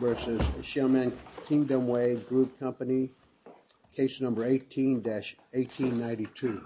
versus Shelman Kingdom Way Group Company, case number 18-1892.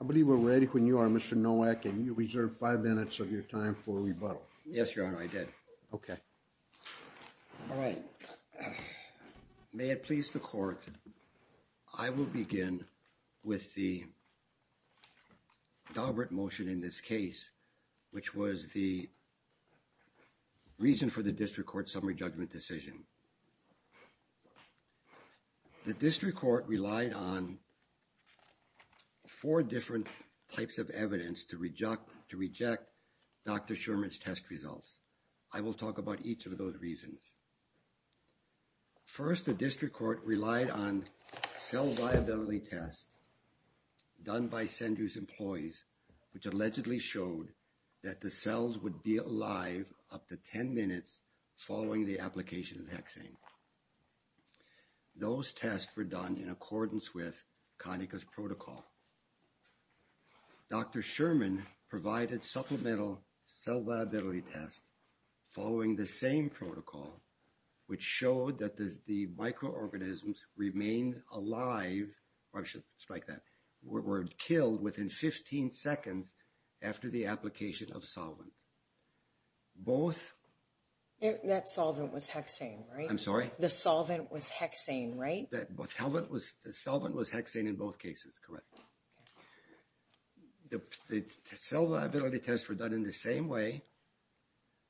I believe we're ready when you are, Mr. Nowak, and you reserved five minutes of your time for rebuttal. Yes, Your Honor, I did. Okay. All right. May it please the court. I will begin with the deliberate motion in this case, which was the reason for the district court summary judgment decision. The district court relied on four different types of evidence to reject Dr. Sherman's test results. I will talk about each of those reasons. First, the district court relied on cell viability tests done by Sendrew's employees, which allegedly showed that the cells would be alive up to 10 minutes following the application of the hexane. Those tests were done in accordance with Conica's protocol. Dr. Sherman provided supplemental cell viability tests following the same protocol, which showed that the microorganisms remained alive, or I should strike that, were killed within 15 seconds after the application of solvent. Both... That solvent was hexane, right? I'm sorry? The solvent was hexane, right? The solvent was hexane in both cases, correct. The cell viability tests were done in the same way,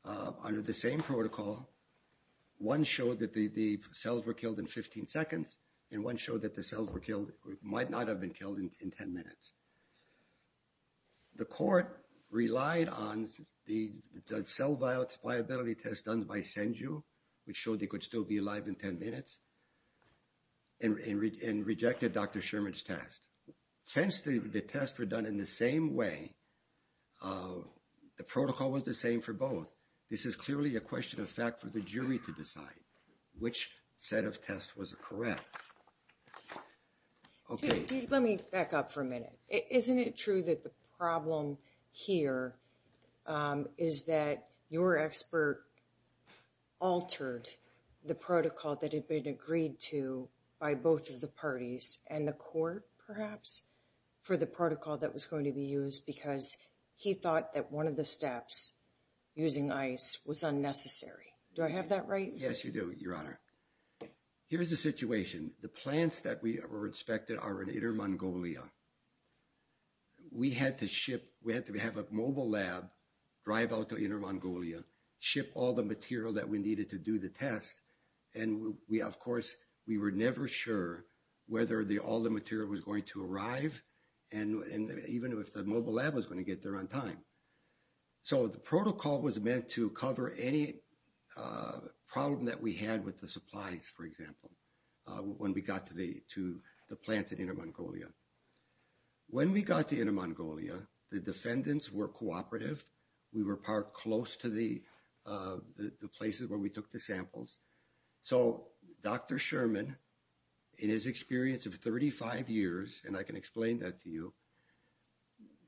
under the same protocol. One showed that the cells were killed in 15 seconds, and one showed that the cells might not have been killed in 10 minutes. The court relied on the cell viability tests done by Sendrew, which showed they could still be alive in 10 minutes, and rejected Dr. Sherman's test. Since the tests were done in the same way, the protocol was the same for both. This is clearly a question of fact for the jury to decide which set of tests was correct. Okay. Let me back up for a minute. Isn't it true that the problem here is that your expert altered the protocol that had been agreed to by both of the parties and the court, perhaps, for the protocol that was going to be used because he thought that one of the steps, using ice, was unnecessary. Do I have that right? Yes, you do, Your Honor. Here's the situation. The plants that were inspected are in Inner Mongolia. We had to have a mobile lab drive out to Inner Mongolia, ship all the material that we needed to do the test, and, of course, we were never sure whether all the material was going to arrive, even if the mobile lab was going to get there on time. So the protocol was meant to cover any problem that we had with the supplies, for example, when we got to the plants at Inner Mongolia. When we got to Inner Mongolia, the defendants were cooperative. We were parked close to the places where we took the samples. So Dr. Sherman, in his experience of 35 years, and I can explain that to you,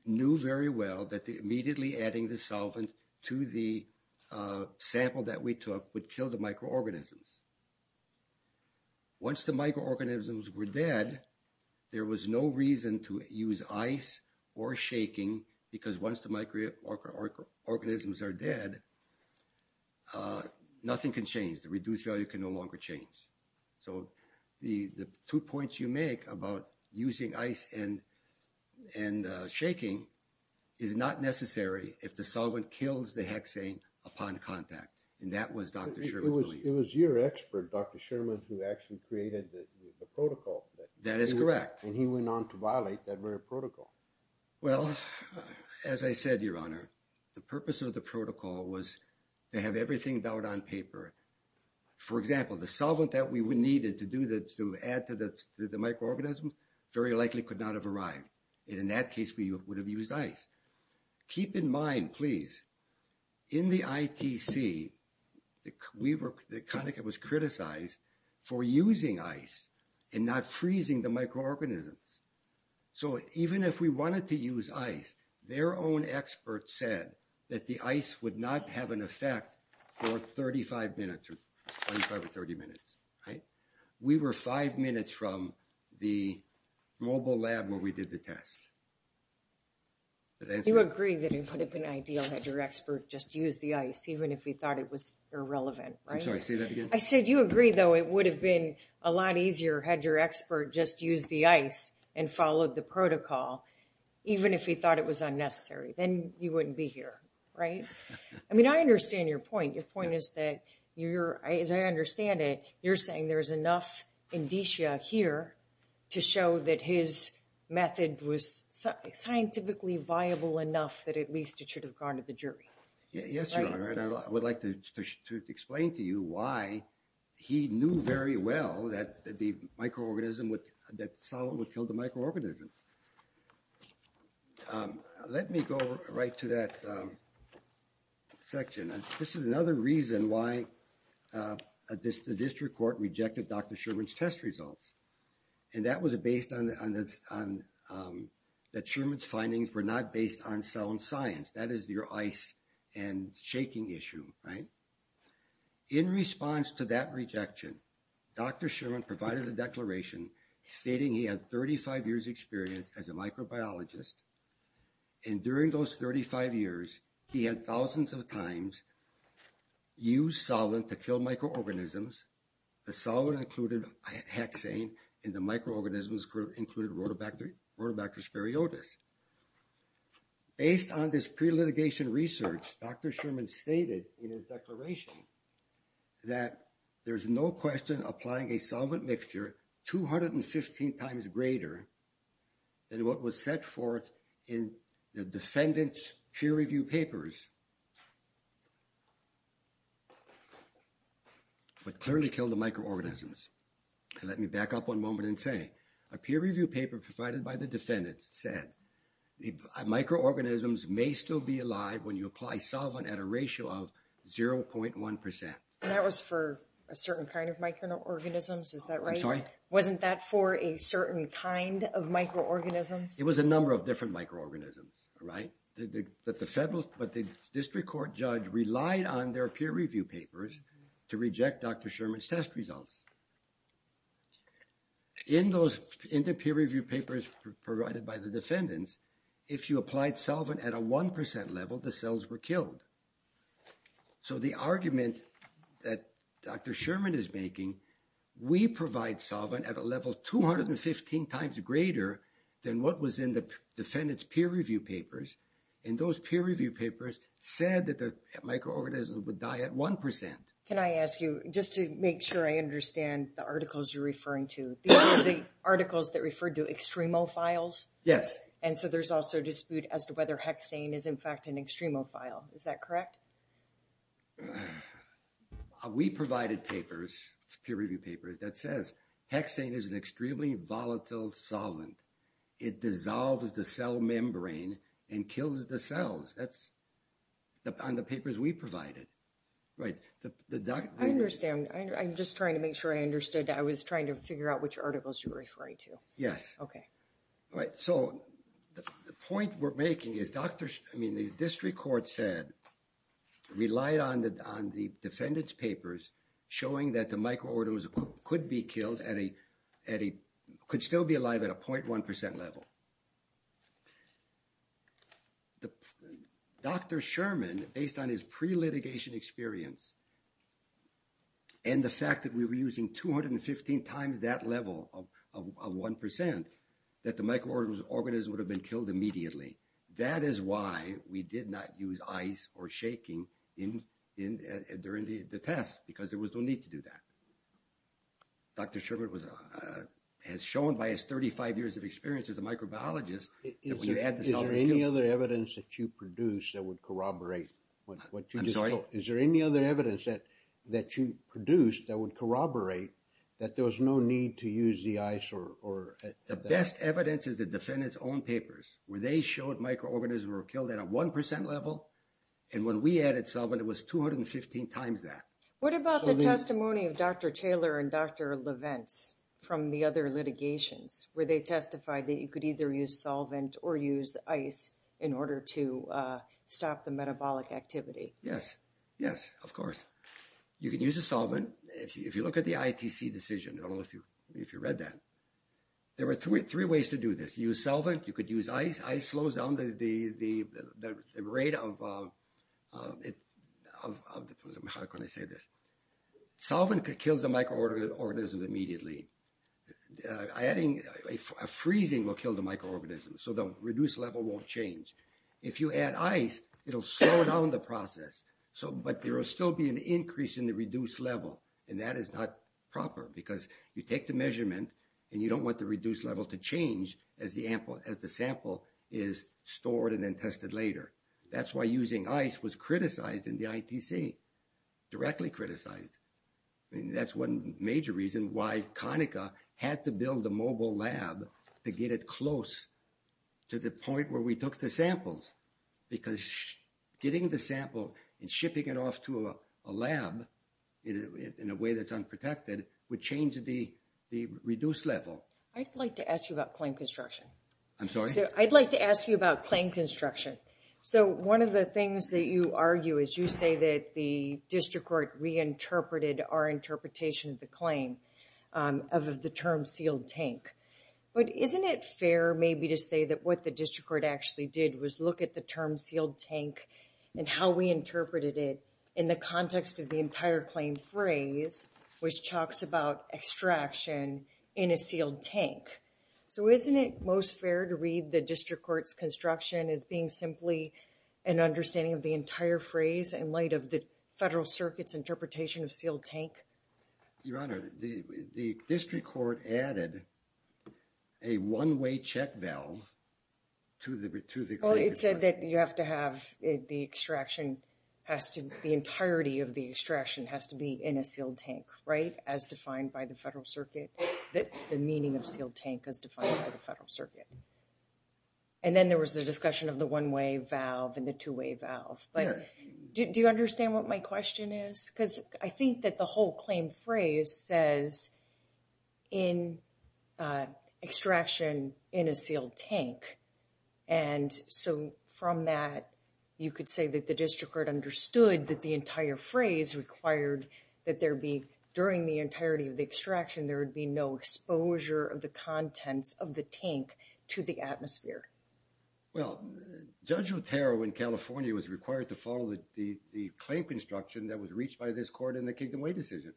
knew very well that immediately adding the solvent to the sample that we took would kill the microorganisms. Once the microorganisms were dead, there was no reason to use ice or shaking because once the microorganisms are dead, nothing can change. The reduced value can no longer change. So the two points you make about using ice and shaking is not necessary if the solvent kills the hexane upon contact, and that was Dr. Sherman's belief. It was your expert, Dr. Sherman, who actually created the protocol. That is correct. And he went on to violate that very protocol. Well, as I said, Your Honor, the purpose of the protocol was to have everything down on paper. For example, the solvent that we needed to add to the microorganisms very likely could not have arrived, and in that case we would have used ice. Keep in mind, please, in the ITC, the Connecticut was criticized for using ice and not freezing the microorganisms. So even if we wanted to use ice, their own experts said that the ice would not have an effect for 35 minutes or 25 or 30 minutes. We were five minutes from the mobile lab where we did the test. You agree that it would have been ideal had your expert just used the ice even if he thought it was irrelevant, right? I'm sorry, say that again. I said you agree, though, it would have been a lot easier had your expert just used the ice and followed the protocol even if he thought it was unnecessary. Then you wouldn't be here, right? I mean, I understand your point. Your point is that, as I understand it, you're saying there's enough indicia here to show that his method was scientifically viable enough that at least it should have gone to the jury. Yes, Your Honor, and I would like to explain to you why he knew very well that the microorganism, that solvent would kill the microorganism. Let me go right to that section. This is another reason why the district court rejected Dr. Sherman's test results, and that was based on that Sherman's findings were not based on sound science. That is your ice and shaking issue, right? In response to that rejection, Dr. Sherman provided a declaration stating he had 35 years' experience as a microbiologist, and during those 35 years, he had thousands of times used solvent to kill microorganisms. The solvent included hexane, and the microorganisms included rhodobacter spuriotis. Based on this pre-litigation research, Dr. Sherman stated in his declaration that there's no question applying a solvent mixture 215 times greater than what was set forth in the defendant's peer review papers would clearly kill the microorganisms. Let me back up one moment and say, a peer review paper provided by the defendant said, microorganisms may still be alive when you apply solvent at a ratio of 0.1%. That was for a certain kind of microorganisms, is that right? I'm sorry? Wasn't that for a certain kind of microorganisms? It was a number of different microorganisms, right? But the district court judge relied on their peer review papers to reject Dr. Sherman's test results. In the peer review papers provided by the defendants, if you applied solvent at a 1% level, the cells were killed. So the argument that Dr. Sherman is making, we provide solvent at a level 215 times greater than what was in the defendant's peer review papers, and those peer review papers said that the microorganisms would die at 1%. Can I ask you, just to make sure I understand the articles you're referring to, these are the articles that refer to extremophiles? Yes. And so there's also dispute as to whether hexane is in fact an extremophile. Is that correct? We provided papers, peer review papers, that says hexane is an extremely volatile solvent. It dissolves the cell membrane and kills the cells. That's on the papers we provided. Right. I understand. I'm just trying to make sure I understood. I was trying to figure out which articles you were referring to. Yes. Okay. Right. So the point we're making is, I mean, the district court said, relied on the defendant's papers showing that the microorganisms could be killed at a, could still be alive at a 0.1% level. Dr. Sherman, based on his pre-litigation experience, and the fact that we were using 215 times that level of 1%, that the microorganisms would have been killed immediately. That is why we did not use ice or shaking during the test, because there was no need to do that. Dr. Sherman has shown by his 35 years of experience as a microbiologist that when you add the solvent to it. Is there any other evidence that you produced that would corroborate what you just told? I'm sorry? Is there any other evidence that you produced that would corroborate that there was no need to use the ice or? The best evidence is the defendant's own papers, where they showed microorganisms were killed at a 1% level, and when we added solvent, it was 215 times that. What about the testimony of Dr. Taylor and Dr. Leventz from the other litigations, where they testified that you could either use solvent or use ice in order to stop the metabolic activity? Yes, yes, of course. You can use a solvent. If you look at the ITC decision, I don't know if you read that, there were three ways to do this. Use solvent, you could use ice. Ice slows down the rate of, how can I say this? Solvent kills the microorganisms immediately. Freezing will kill the microorganisms, so the reduced level won't change. If you add ice, it will slow down the process, but there will still be an increase in the reduced level, and that is not proper because you take the measurement and you don't want the reduced level to change as the sample is stored and then tested later. That's why using ice was criticized in the ITC, directly criticized. That's one major reason why Conaca had to build a mobile lab to get it close to the point where we took the samples, because getting the sample and shipping it off to a lab in a way that's unprotected would change the reduced level. I'd like to ask you about claim construction. I'm sorry? I'd like to ask you about claim construction. One of the things that you argue is you say that the district court reinterpreted our interpretation of the claim of the term sealed tank, but isn't it fair maybe to say that what the district court actually did was look at the term sealed tank and how we interpreted it in the context of the entire claim phrase, which talks about extraction in a sealed tank. So isn't it most fair to read the district court's construction as being simply an understanding of the entire phrase in light of the Federal Circuit's interpretation of sealed tank? Your Honor, the district court added a one-way check valve to the claim. It said that you have to have the extraction, the entirety of the extraction has to be in a sealed tank, right, as defined by the Federal Circuit, the meaning of sealed tank as defined by the Federal Circuit. And then there was the discussion of the one-way valve and the two-way valve. Do you understand what my question is? Because I think that the whole claim phrase says, in extraction in a sealed tank. And so from that, you could say that the district court understood that the entire phrase required that there be, during the entirety of the extraction, there would be no exposure of the contents of the tank to the atmosphere. Well, Judge Otero in California was required to follow the claim construction that was reached by this court in the Kingdom Way decision.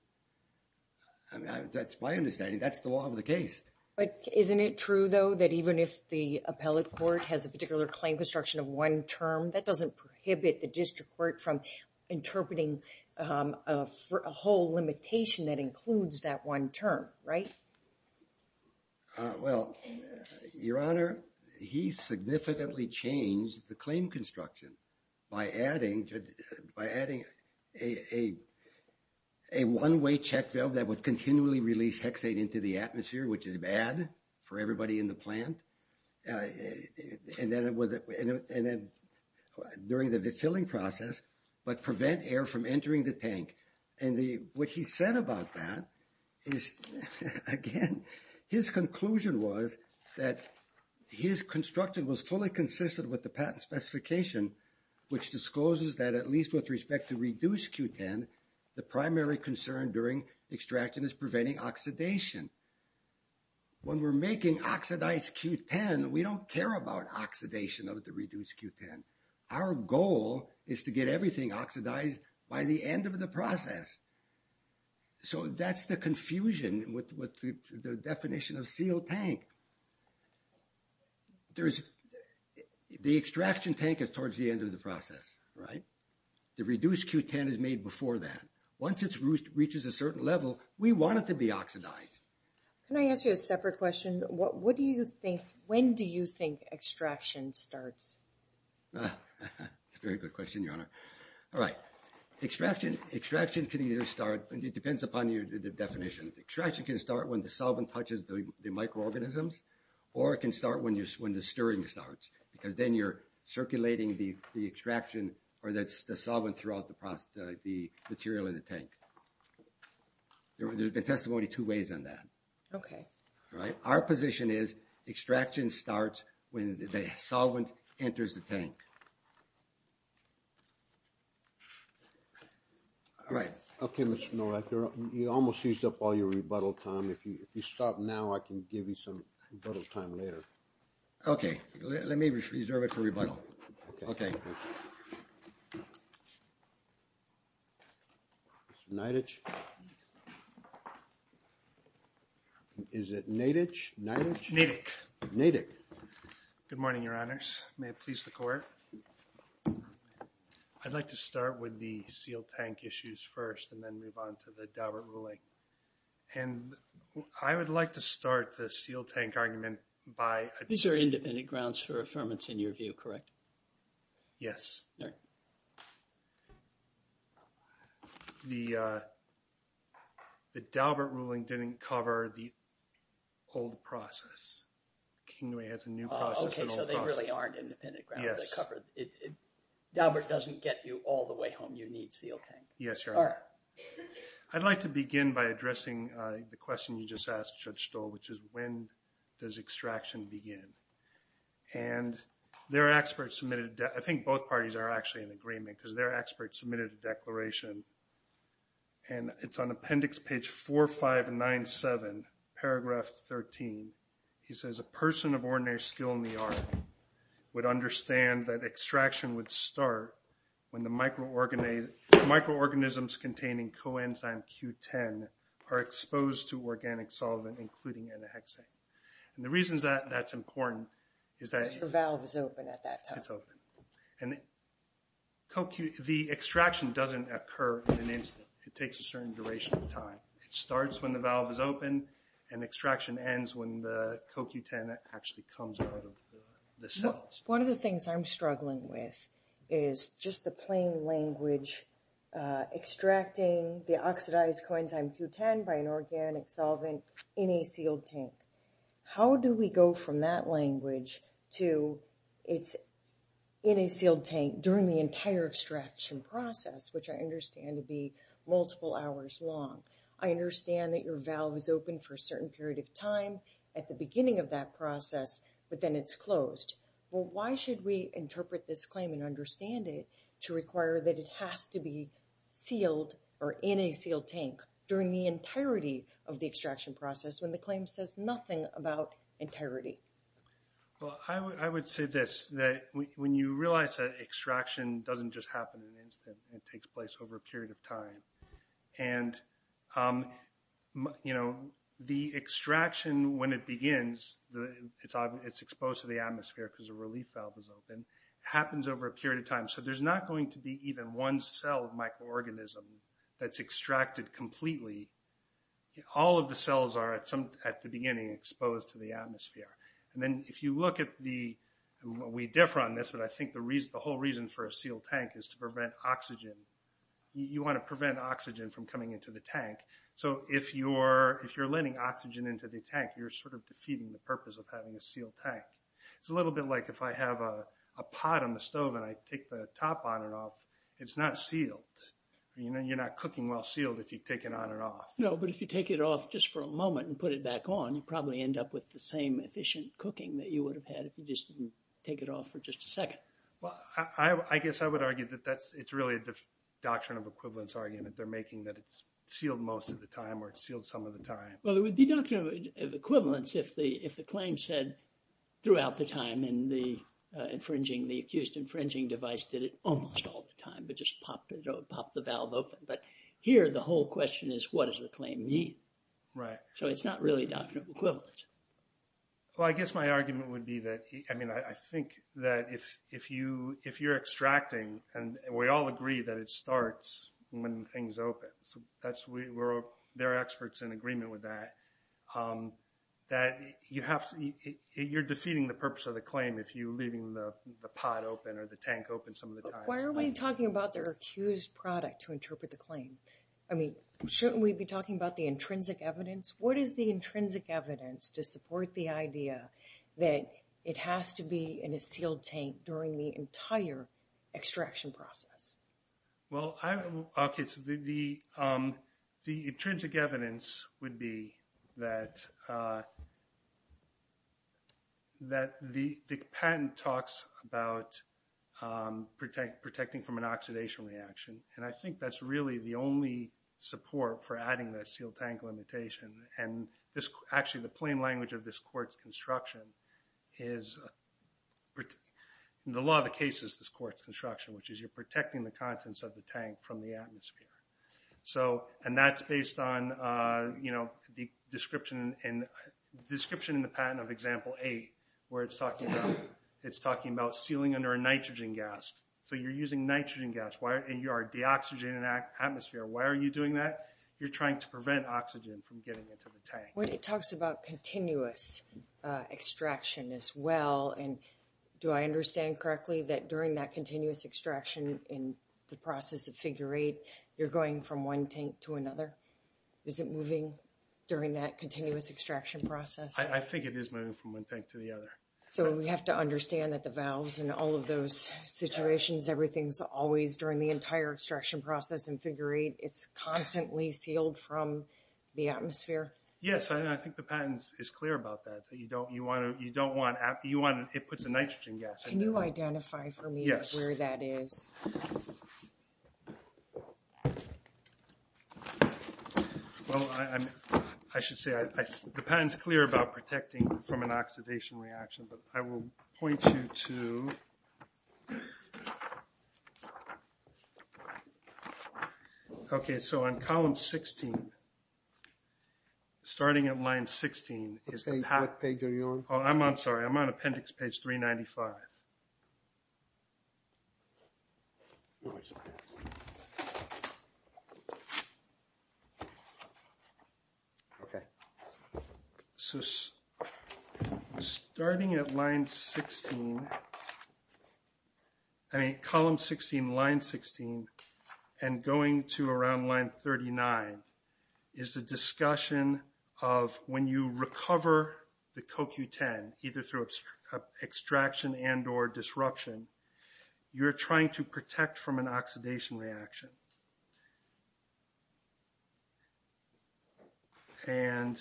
That's my understanding. That's the law of the case. But isn't it true, though, that even if the appellate court has a particular claim construction of one term, that doesn't prohibit the district court from interpreting a whole limitation that includes that one term, right? Well, Your Honor, he significantly changed the claim construction by adding a one-way check valve that would continually release hexane into the atmosphere, which is bad for everybody in the plant. And then during the filling process, but prevent air from entering the tank. And what he said about that is, again, his conclusion was that his construction was fully consistent with the patent specification, which discloses that at least with respect to reduced Q10, the primary concern during extraction is preventing oxidation. When we're making oxidized Q10, we don't care about oxidation of the reduced Q10. Our goal is to get everything oxidized by the end of the process. So that's the confusion with the definition of sealed tank. The extraction tank is towards the end of the process, right? The reduced Q10 is made before that. Once it reaches a certain level, we want it to be oxidized. Can I ask you a separate question? When do you think extraction starts? That's a very good question, Your Honor. All right. Extraction can either start, and it depends upon the definition. Extraction can start when the solvent touches the microorganisms, or it can start when the stirring starts, because then you're circulating the extraction or the solvent throughout the material in the tank. There's been testimony two ways on that. Okay. All right. Our position is extraction starts when the solvent enters the tank. All right. Okay, Mr. Nowak, you almost used up all your rebuttal time. If you stop now, I can give you some rebuttal time later. Okay. Let me reserve it for rebuttal. Okay. Okay. Thank you. Mr. Naitich? Is it Naitich? Naitich? Naitich. Naitich. Good morning, Your Honors. May it please the Court. I'd like to start with the sealed tank issues first and then move on to the Daubert ruling. And I would like to start the sealed tank argument by – These are independent grounds for affirmance in your view, correct? Yes. All right. The Daubert ruling didn't cover the old process. Kingway has a new process. Okay, so they really aren't independent grounds. Yes. They cover – Daubert doesn't get you all the way home. You need sealed tank. Yes, Your Honor. All right. I'd like to begin by addressing the question you just asked, Judge Stoll, which is when does extraction begin? And there are experts submitted – I think both parties are actually in agreement because there are experts submitted a declaration, and it's on Appendix Page 4597, Paragraph 13. He says, A person of ordinary skill in the art would understand that extraction would start when the microorganisms containing coenzyme Q10 are exposed to organic solvent, including N-hexane. And the reason that's important is that – The valve is open at that time. It's open. And the extraction doesn't occur in an instant. It takes a certain duration of time. It starts when the valve is open, and extraction ends when the CoQ10 actually comes out of the cells. One of the things I'm struggling with is just the plain language, extracting the oxidized coenzyme Q10 by an organic solvent in a sealed tank. How do we go from that language to it's in a sealed tank during the entire extraction process, which I understand to be multiple hours long? I understand that your valve is open for a certain period of time at the beginning of that process, but then it's closed. Well, why should we interpret this claim and understand it to require that it has to be sealed or in a sealed tank during the entirety of the extraction process when the claim says nothing about integrity? Well, I would say this, that when you realize that extraction doesn't just happen in an instant, it takes place over a period of time. And, you know, the extraction, when it begins, it's exposed to the atmosphere because the relief valve is open, happens over a period of time. So there's not going to be even one cell microorganism that's extracted completely. All of the cells are at the beginning exposed to the atmosphere. And then if you look at the, we differ on this, but I think the whole reason for a sealed tank is to prevent oxygen. You want to prevent oxygen from coming into the tank. So if you're letting oxygen into the tank, you're sort of defeating the purpose of having a sealed tank. It's a little bit like if I have a pot on the stove and I take the top on and off, it's not sealed. You know, you're not cooking while sealed if you take it on and off. No, but if you take it off just for a moment and put it back on, you probably end up with the same efficient cooking that you would have had if you just didn't take it off for just a second. Well, I guess I would argue that that's, it's really a doctrine of equivalence argument. They're making that it's sealed most of the time or it's sealed some of the time. Well, it would be doctrine of equivalence if the, if the claim said throughout the time and the infringing, the accused infringing device did it almost all the time, but just popped the valve open. But here the whole question is what does the claim mean? Right. So it's not really doctrine of equivalence. Well, I guess my argument would be that, I mean, I think that if you're extracting and we all agree that it starts when things open. So that's, we're, they're experts in agreement with that. That you have to, you're defeating the purpose of the claim if you're leaving the pot open or the tank open some of the time. Why are we talking about their accused product to interpret the claim? I mean, shouldn't we be talking about the intrinsic evidence? What is the intrinsic evidence to support the idea that it has to be in a sealed tank during the entire extraction process? Well, I, okay. So the, the intrinsic evidence would be that, that the patent talks about protecting from an oxidation reaction. And I think that's really the only support for adding the sealed tank limitation. And this, actually the plain language of this court's construction is, in the law of the cases, this court's construction, which is you're protecting the contents of the tank from the atmosphere. So, and that's based on, you know, the description in the patent of example eight, where it's talking about, it's talking about sealing under a nitrogen gas. So you're using nitrogen gas, and you are deoxygenating the atmosphere. Why are you doing that? You're trying to prevent oxygen from getting into the tank. Well, it talks about continuous extraction as well. And do I understand correctly that during that continuous extraction in the process of figure eight, you're going from one tank to another? Is it moving during that continuous extraction process? I think it is moving from one tank to the other. So we have to understand that the valves and all of those situations, everything's always during the entire extraction process in figure eight, it's constantly sealed from the atmosphere? Yes. And I think the patent is clear about that. That you don't, you want to, you don't want, it puts a nitrogen gas in there. Can you identify for me where that is? Well, I'm, I should say, the patent's clear about protecting from an oxidation reaction, but I will point you to, okay, so on column 16, starting at line 16. What page are you on? Oh, I'm on, sorry, I'm on appendix page 395. Okay. So starting at line 16, I mean, column 16, line 16, and going to around line 39 is the discussion of when you recover the disruption, you're trying to protect from an oxidation reaction. And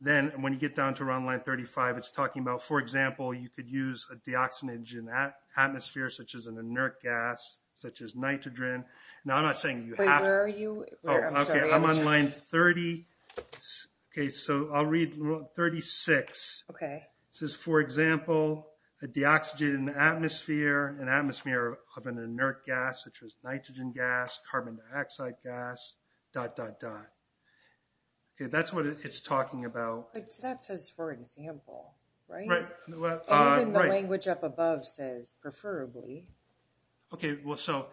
then when you get down to around line 35, it's talking about, for example, you could use a deoxygenant atmosphere, such as an inert gas, such as nitrogen. Now, I'm not saying you have to. Wait, where are you? Oh, okay, I'm on line 30. Okay, so I'll read 36. Okay. It says, for example, a deoxygenant atmosphere, an atmosphere of an inert gas, such as nitrogen gas, carbon dioxide gas, dot, dot, dot. Okay, that's what it's talking about. That says, for example, right? Right. And then the language up above says, preferably. Okay, well, so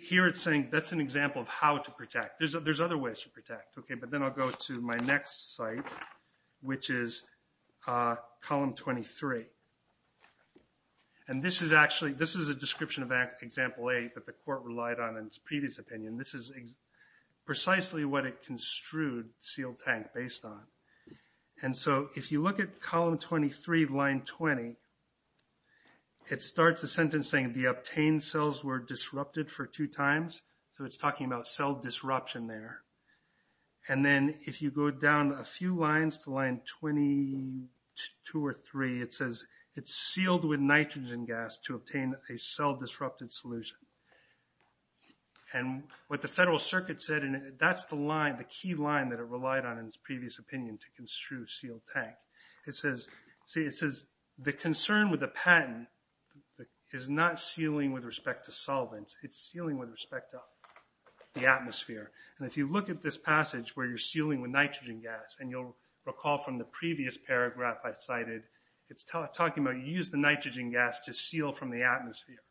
here it's saying that's an example of how to protect. There's other ways to protect, okay, but then I'll go to my next site, which is column 23. And this is actually, this is a description of example 8 that the court relied on in its previous opinion. This is precisely what it construed sealed tank based on. And so if you look at column 23, line 20, it starts the sentence saying, the obtained cells were disrupted for two times. So it's talking about cell disruption there. And then if you go down a few lines to line 22 or 23, it says, it's sealed with nitrogen gas to obtain a cell-disrupted solution. And what the Federal Circuit said, and that's the line, the key line that it relied on in its previous opinion to construe sealed tank. It says, see, it says, the concern with the patent is not sealing with respect to solvents. It's sealing with respect to the atmosphere. And if you look at this passage where you're sealing with nitrogen gas, and you'll recall from the previous paragraph I cited, it's talking about you use the nitrogen gas to seal from the atmosphere.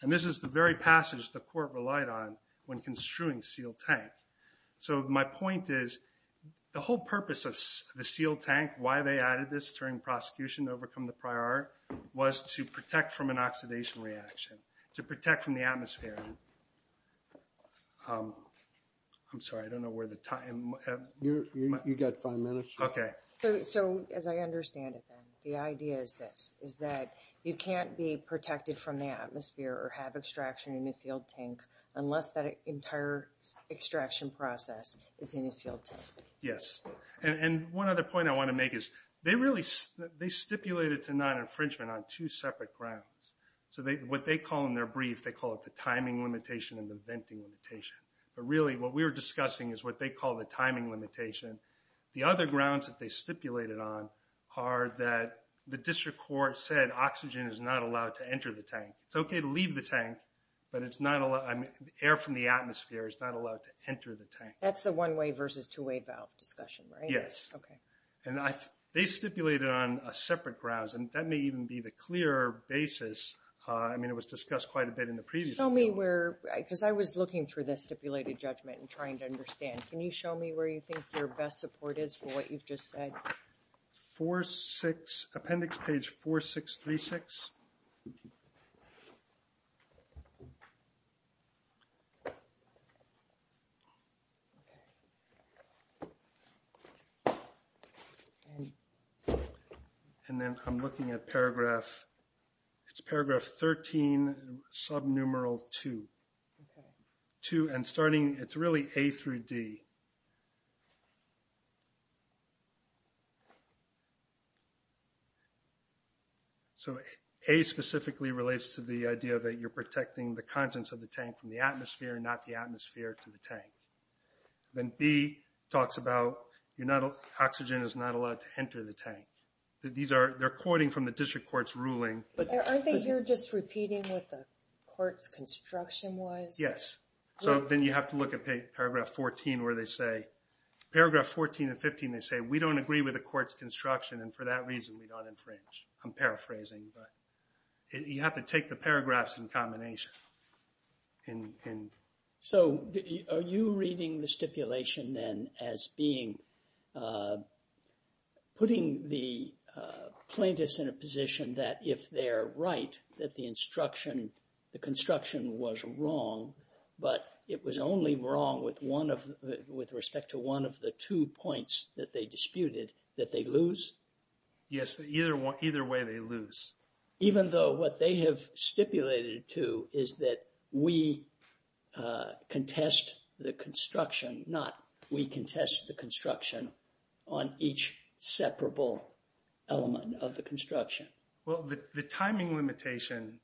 And this is the very passage the court relied on when construing sealed tank. So my point is, the whole purpose of the sealed tank, why they added this during prosecution to overcome the prior art, I'm sorry, I don't know where the time. You've got five minutes. Okay. So as I understand it then, the idea is this, is that you can't be protected from the atmosphere or have extraction in a sealed tank unless that entire extraction process is in a sealed tank. Yes. And one other point I want to make is, they stipulated to non-infringement on two separate grounds. So what they call in their brief, they call it the timing limitation and the venting limitation. But really what we were discussing is what they call the timing limitation. The other grounds that they stipulated on are that the district court said oxygen is not allowed to enter the tank. It's okay to leave the tank, but it's not, air from the atmosphere is not allowed to enter the tank. That's the one-way versus two-way valve discussion, right? Yes. Okay. And they stipulated on separate grounds, and that may even be the clearer basis. I mean, it was discussed quite a bit in the previous one. Show me where, because I was looking through the stipulated judgment and trying to understand. Can you show me where you think your best support is for what you've just said? Appendix page 4636. And then I'm looking at paragraph, it's paragraph 13, sub-numeral 2. Okay. And starting, it's really A through D. So A specifically relates to the idea that you're protecting the contents of the tank from the atmosphere and not the atmosphere to the tank. Then B talks about oxygen is not allowed to enter the tank. They're quoting from the district court's ruling. Aren't they here just repeating what the court's construction was? Yes. So then you have to look at paragraph 14 where they say, paragraph 14 and 15, they say, we don't agree with the court's construction and for that reason we don't infringe. I'm paraphrasing, but you have to take the paragraphs in combination. So are you reading the stipulation then as being, putting the plaintiffs in a position that if they're right, that the instruction, the construction was wrong, but it was only wrong with respect to one of the two points that they disputed, that they lose? Yes. Either way they lose. Even though what they have stipulated too is that we contest the construction on each separable element of the construction. Well, the timing limitation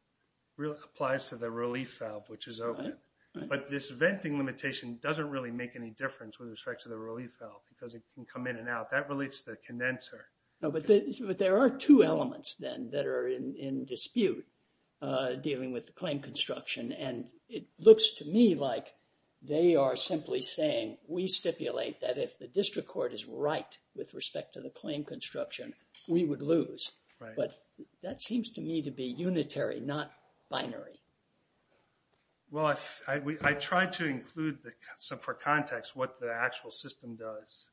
really applies to the relief valve, which is open, but this venting limitation doesn't really make any difference with respect to the relief valve because it can come in and out. That relates to the condenser. But there are two elements then that are in dispute dealing with the claim construction. And it looks to me like they are simply saying we stipulate that if the district court is right with respect to the claim construction, we would lose. Right. But that seems to me to be unitary, not binary. Well, I tried to include for context what the actual system does.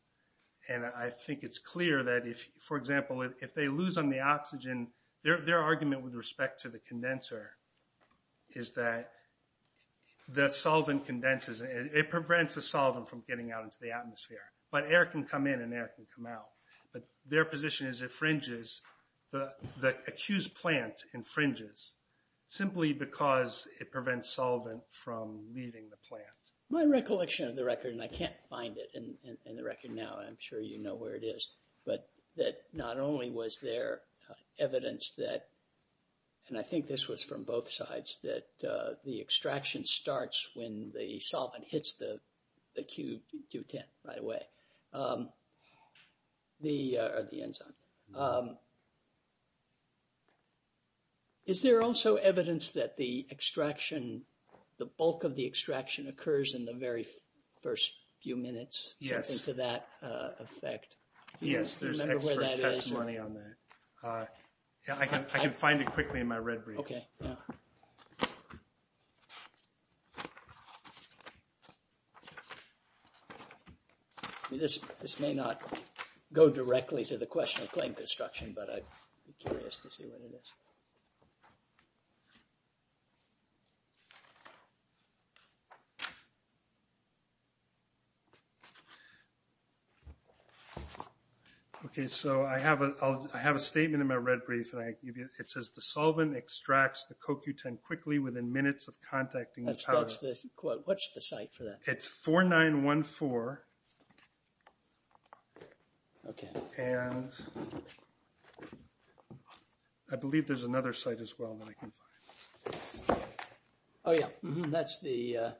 And I think it's clear that if, for example, if they lose on the oxygen, their argument with respect to the condenser is that the solvent condenses. It prevents the solvent from getting out into the atmosphere. But air can come in and air can come out. But their position is it fringes, the accused plant infringes simply because it prevents solvent from leaving the plant. My recollection of the record, and I can't find it in the record now, I'm sure you know where it is, but that not only was there evidence that, and I think this was from both sides, but there was evidence that the extraction starts when the solvent hits the Q10 right away, the enzyme. Is there also evidence that the extraction, the bulk of the extraction occurs in the very first few minutes? Yes. Something to that effect. Yes, there's extra testimony on that. I can find it quickly in my red brief. Okay. Yeah. This may not go directly to the question of claim construction, but I'd be curious to see what it is. Okay, so I have a statement in my red brief, and it says the solvent extracts the CoQ10 quickly within minutes of contacting the powder. What's the site for that? It's 4914. Okay. And I believe there's another site as well that I can find. Oh, yeah. That's the...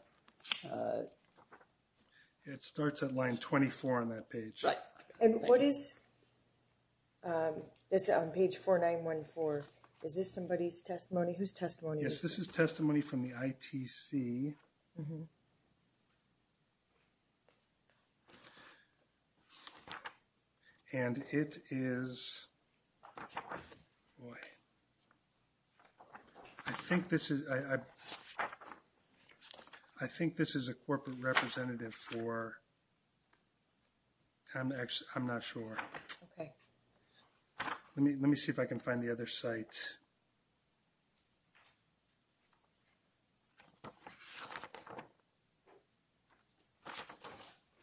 It starts at line 24 on that page. Right. And what is this on page 4914? Is this somebody's testimony? Whose testimony is this? Yes, this is testimony from the ITC. And it is... I think this is a corporate representative for... I'm not sure. Okay. Let me see if I can find the other site.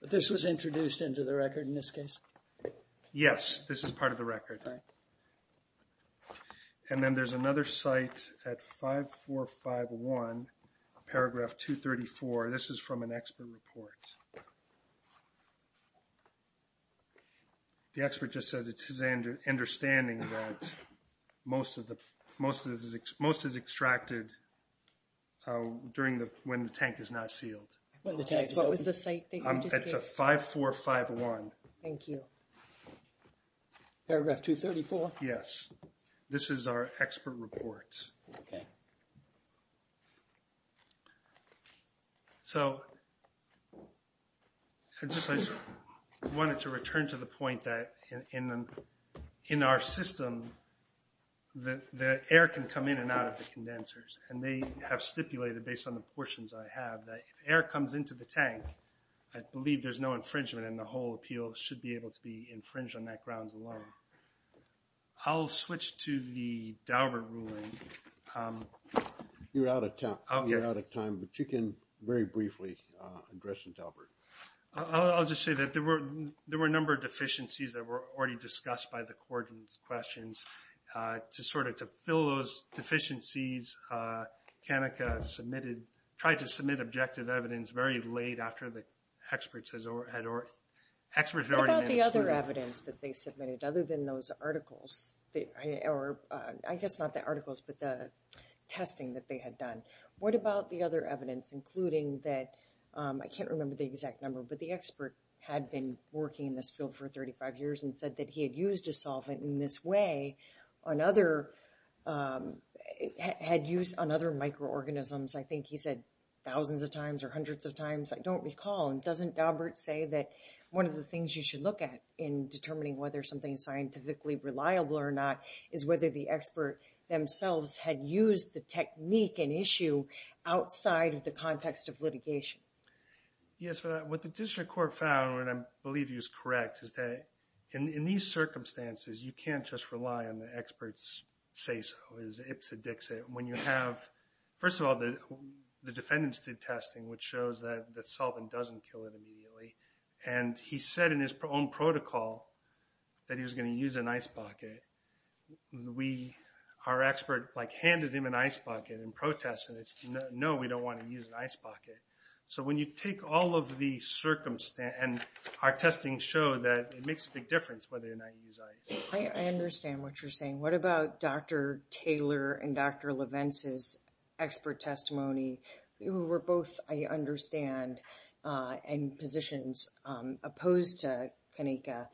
This was introduced into the record in this case? Yes, this is part of the record. Right. And then there's another site at 5451, paragraph 234. This is from an expert report. The expert just says it's his understanding that most is extracted during when the tank is not sealed. What was the site that you just gave? It's 5451. Thank you. Paragraph 234? Yes. This is our expert report. Okay. So I just wanted to return to the point that in our system, the air can come in and out of the condensers. And they have stipulated, based on the portions I have, that if air comes into the tank, I believe there's no infringement and the whole appeal should be able to be infringed on that grounds alone. I'll switch to the Daubert ruling. You're out of time, but you can very briefly address the Daubert. I'll just say that there were a number of deficiencies that were already discussed by the court in these questions. To sort of fill those deficiencies, Kanika tried to submit objective evidence very late after the experts had already mentioned it. What about the other evidence that they submitted, other than those articles? I guess not the articles, but the testing that they had done. What about the other evidence, including that, I can't remember the exact number, but the expert had been working in this field for 35 years and said that he had used a solvent in this way on other microorganisms. I think he said thousands of times or hundreds of times. I don't recall. Doesn't Daubert say that one of the things you should look at in whether the expert themselves had used the technique and issue outside of the context of litigation? Yes. What the district court found, and I believe he was correct, is that in these circumstances, you can't just rely on the expert's say-so, his ips and dixit. First of all, the defendants did testing, which shows that the solvent doesn't kill it immediately. He said in his own protocol that he was going to use an ice bucket. Our expert handed him an ice bucket in protest, and it's, no, we don't want to use an ice bucket. So when you take all of the circumstances, and our testing showed that it makes a big difference whether or not you use ice. I understand what you're saying. What about Dr. Taylor and Dr. Leventz's expert testimony? You were both, I understand, in positions opposed to Kanika,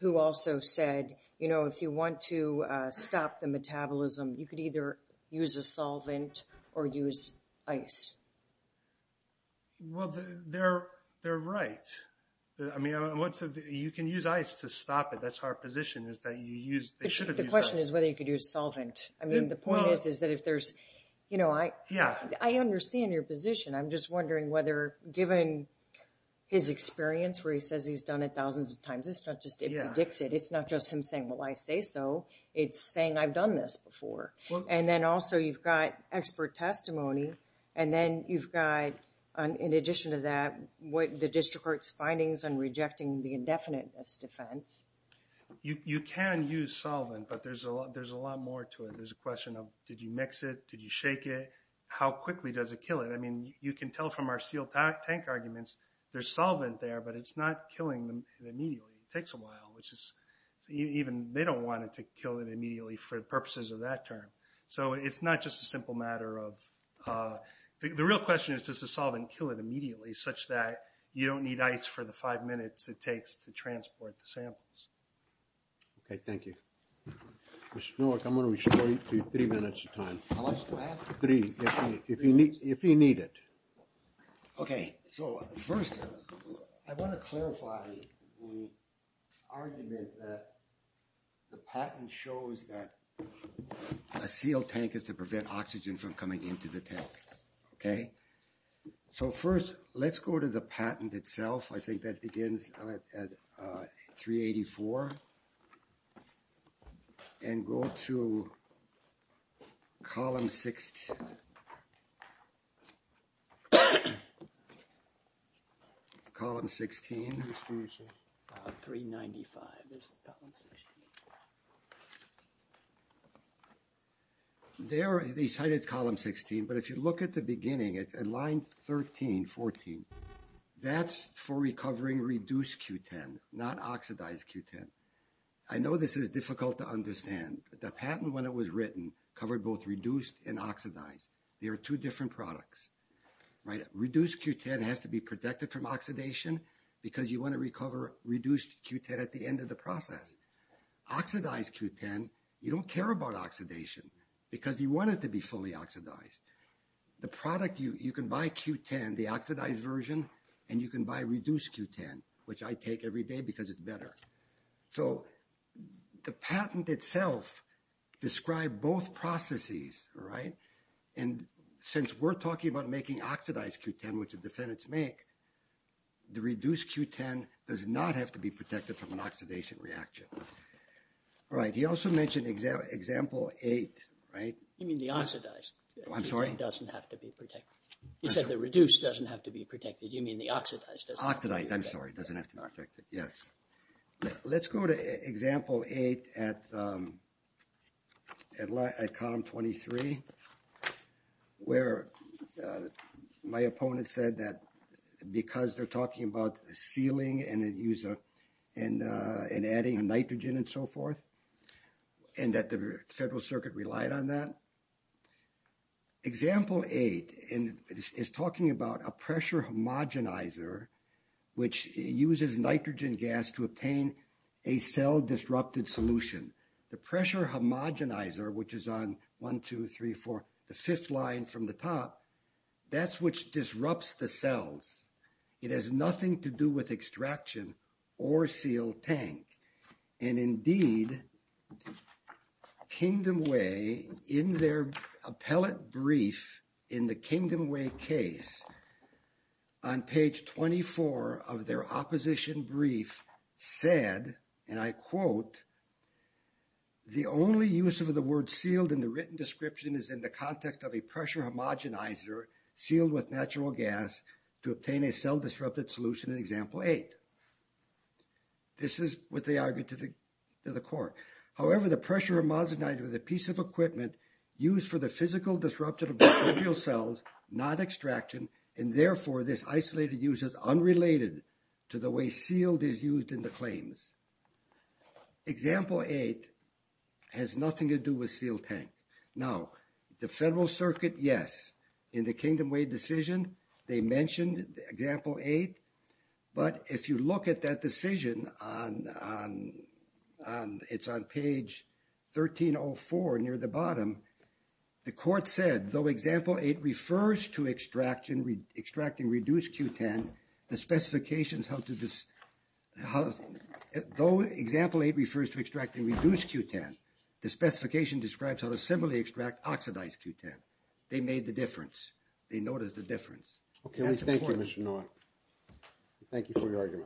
who also said, you know, if you want to stop the metabolism, you could either use a solvent or use ice. Well, they're right. I mean, you can use ice to stop it. That's our position is that you use, they should have used ice. The question is whether you could use solvent. I mean, the point is, is that if there's, you know, I, I understand your position. I'm just wondering whether given his experience, where he says he's done it thousands of times, it's not just Ipsy Dixit. It's not just him saying, well, I say so. It's saying I've done this before. And then also you've got expert testimony. And then you've got, in addition to that, what the district court's findings on rejecting the indefiniteness defense. You can use solvent, but there's a lot more to it. There's a question of, did you mix it? Did you shake it? How quickly does it kill it? I mean, you can tell from our sealed tank arguments, there's solvent there, but it's not killing them immediately. It takes a while, which is, even, they don't want it to kill it immediately for purposes of that term. So it's not just a simple matter of, the real question is, does the solvent kill it immediately such that you don't need ice for the five minutes it takes to transport the samples? Okay, thank you. Mr. Newark, I'm going to restore you to three minutes of time. Three, if you need it. Okay, so first, I want to clarify the argument that the patent shows that a sealed tank is to prevent oxygen from coming into the tank, okay? So first, let's go to the patent itself. I think that begins at 384. And go to column 16. Column 16. 395 is column 16. There, they cited column 16, but if you look at the beginning, at line 13, 14, that's for recovering reduced Q10, not oxidized Q10. I know this is difficult to understand. The patent, when it was written, covered both reduced and oxidized. They are two different products, right? Reduced Q10 has to be protected from oxidation because you want to recover reduced Q10 at the end of the process. Oxidized Q10, you don't care about oxidation because you want it to be fully oxidized. The product, you can buy Q10, the oxidized version, and you can buy reduced Q10, which I take every day because it's better. So the patent itself described both processes, right? And since we're talking about making oxidized Q10, which the defendants make, the reduced Q10 does not have to be protected from an oxidation reaction. All right, he also mentioned example 8, right? You mean the oxidized. I'm sorry? Q10 doesn't have to be protected. You said the reduced doesn't have to be protected. You mean the oxidized doesn't have to be protected. Oxidized, I'm sorry, doesn't have to be protected, yes. Let's go to example 8 at column 23 where my opponent said that because they're talking about sealing and adding nitrogen and so forth, and that the Federal Circuit relied on that. Example 8 is talking about a pressure homogenizer, which uses nitrogen gas to obtain a cell-disrupted solution. The pressure homogenizer, which is on 1, 2, 3, 4, the fifth line from the top, that's which disrupts the cells. It has nothing to do with extraction or sealed tank. And indeed, Kingdom Way, in their appellate brief in the Kingdom Way case, on page 24 of their opposition brief said, and I quote, the only use of the word sealed in the written description is in the context of a pressure homogenizer sealed with natural gas to obtain a cell-disrupted solution in example 8. This is what they argued to the court. However, the pressure homogenizer is a piece of equipment used for the physical disruption of microbial cells, not extraction, and therefore this isolated use is unrelated to the way sealed is used in the claims. Example 8 has nothing to do with sealed tank. Now, the Federal Circuit, yes, in the Kingdom Way decision, they mentioned example 8, but if you look at that decision, it's on page 1304 near the bottom, the court said, though example 8 refers to extracting reduced Q10, the specifications help to just, though example 8 refers to extracting reduced Q10, the specification describes how to similarly extract oxidized Q10. They noticed the difference. Okay. Thank you, Mr. Nauert. Thank you for your argument.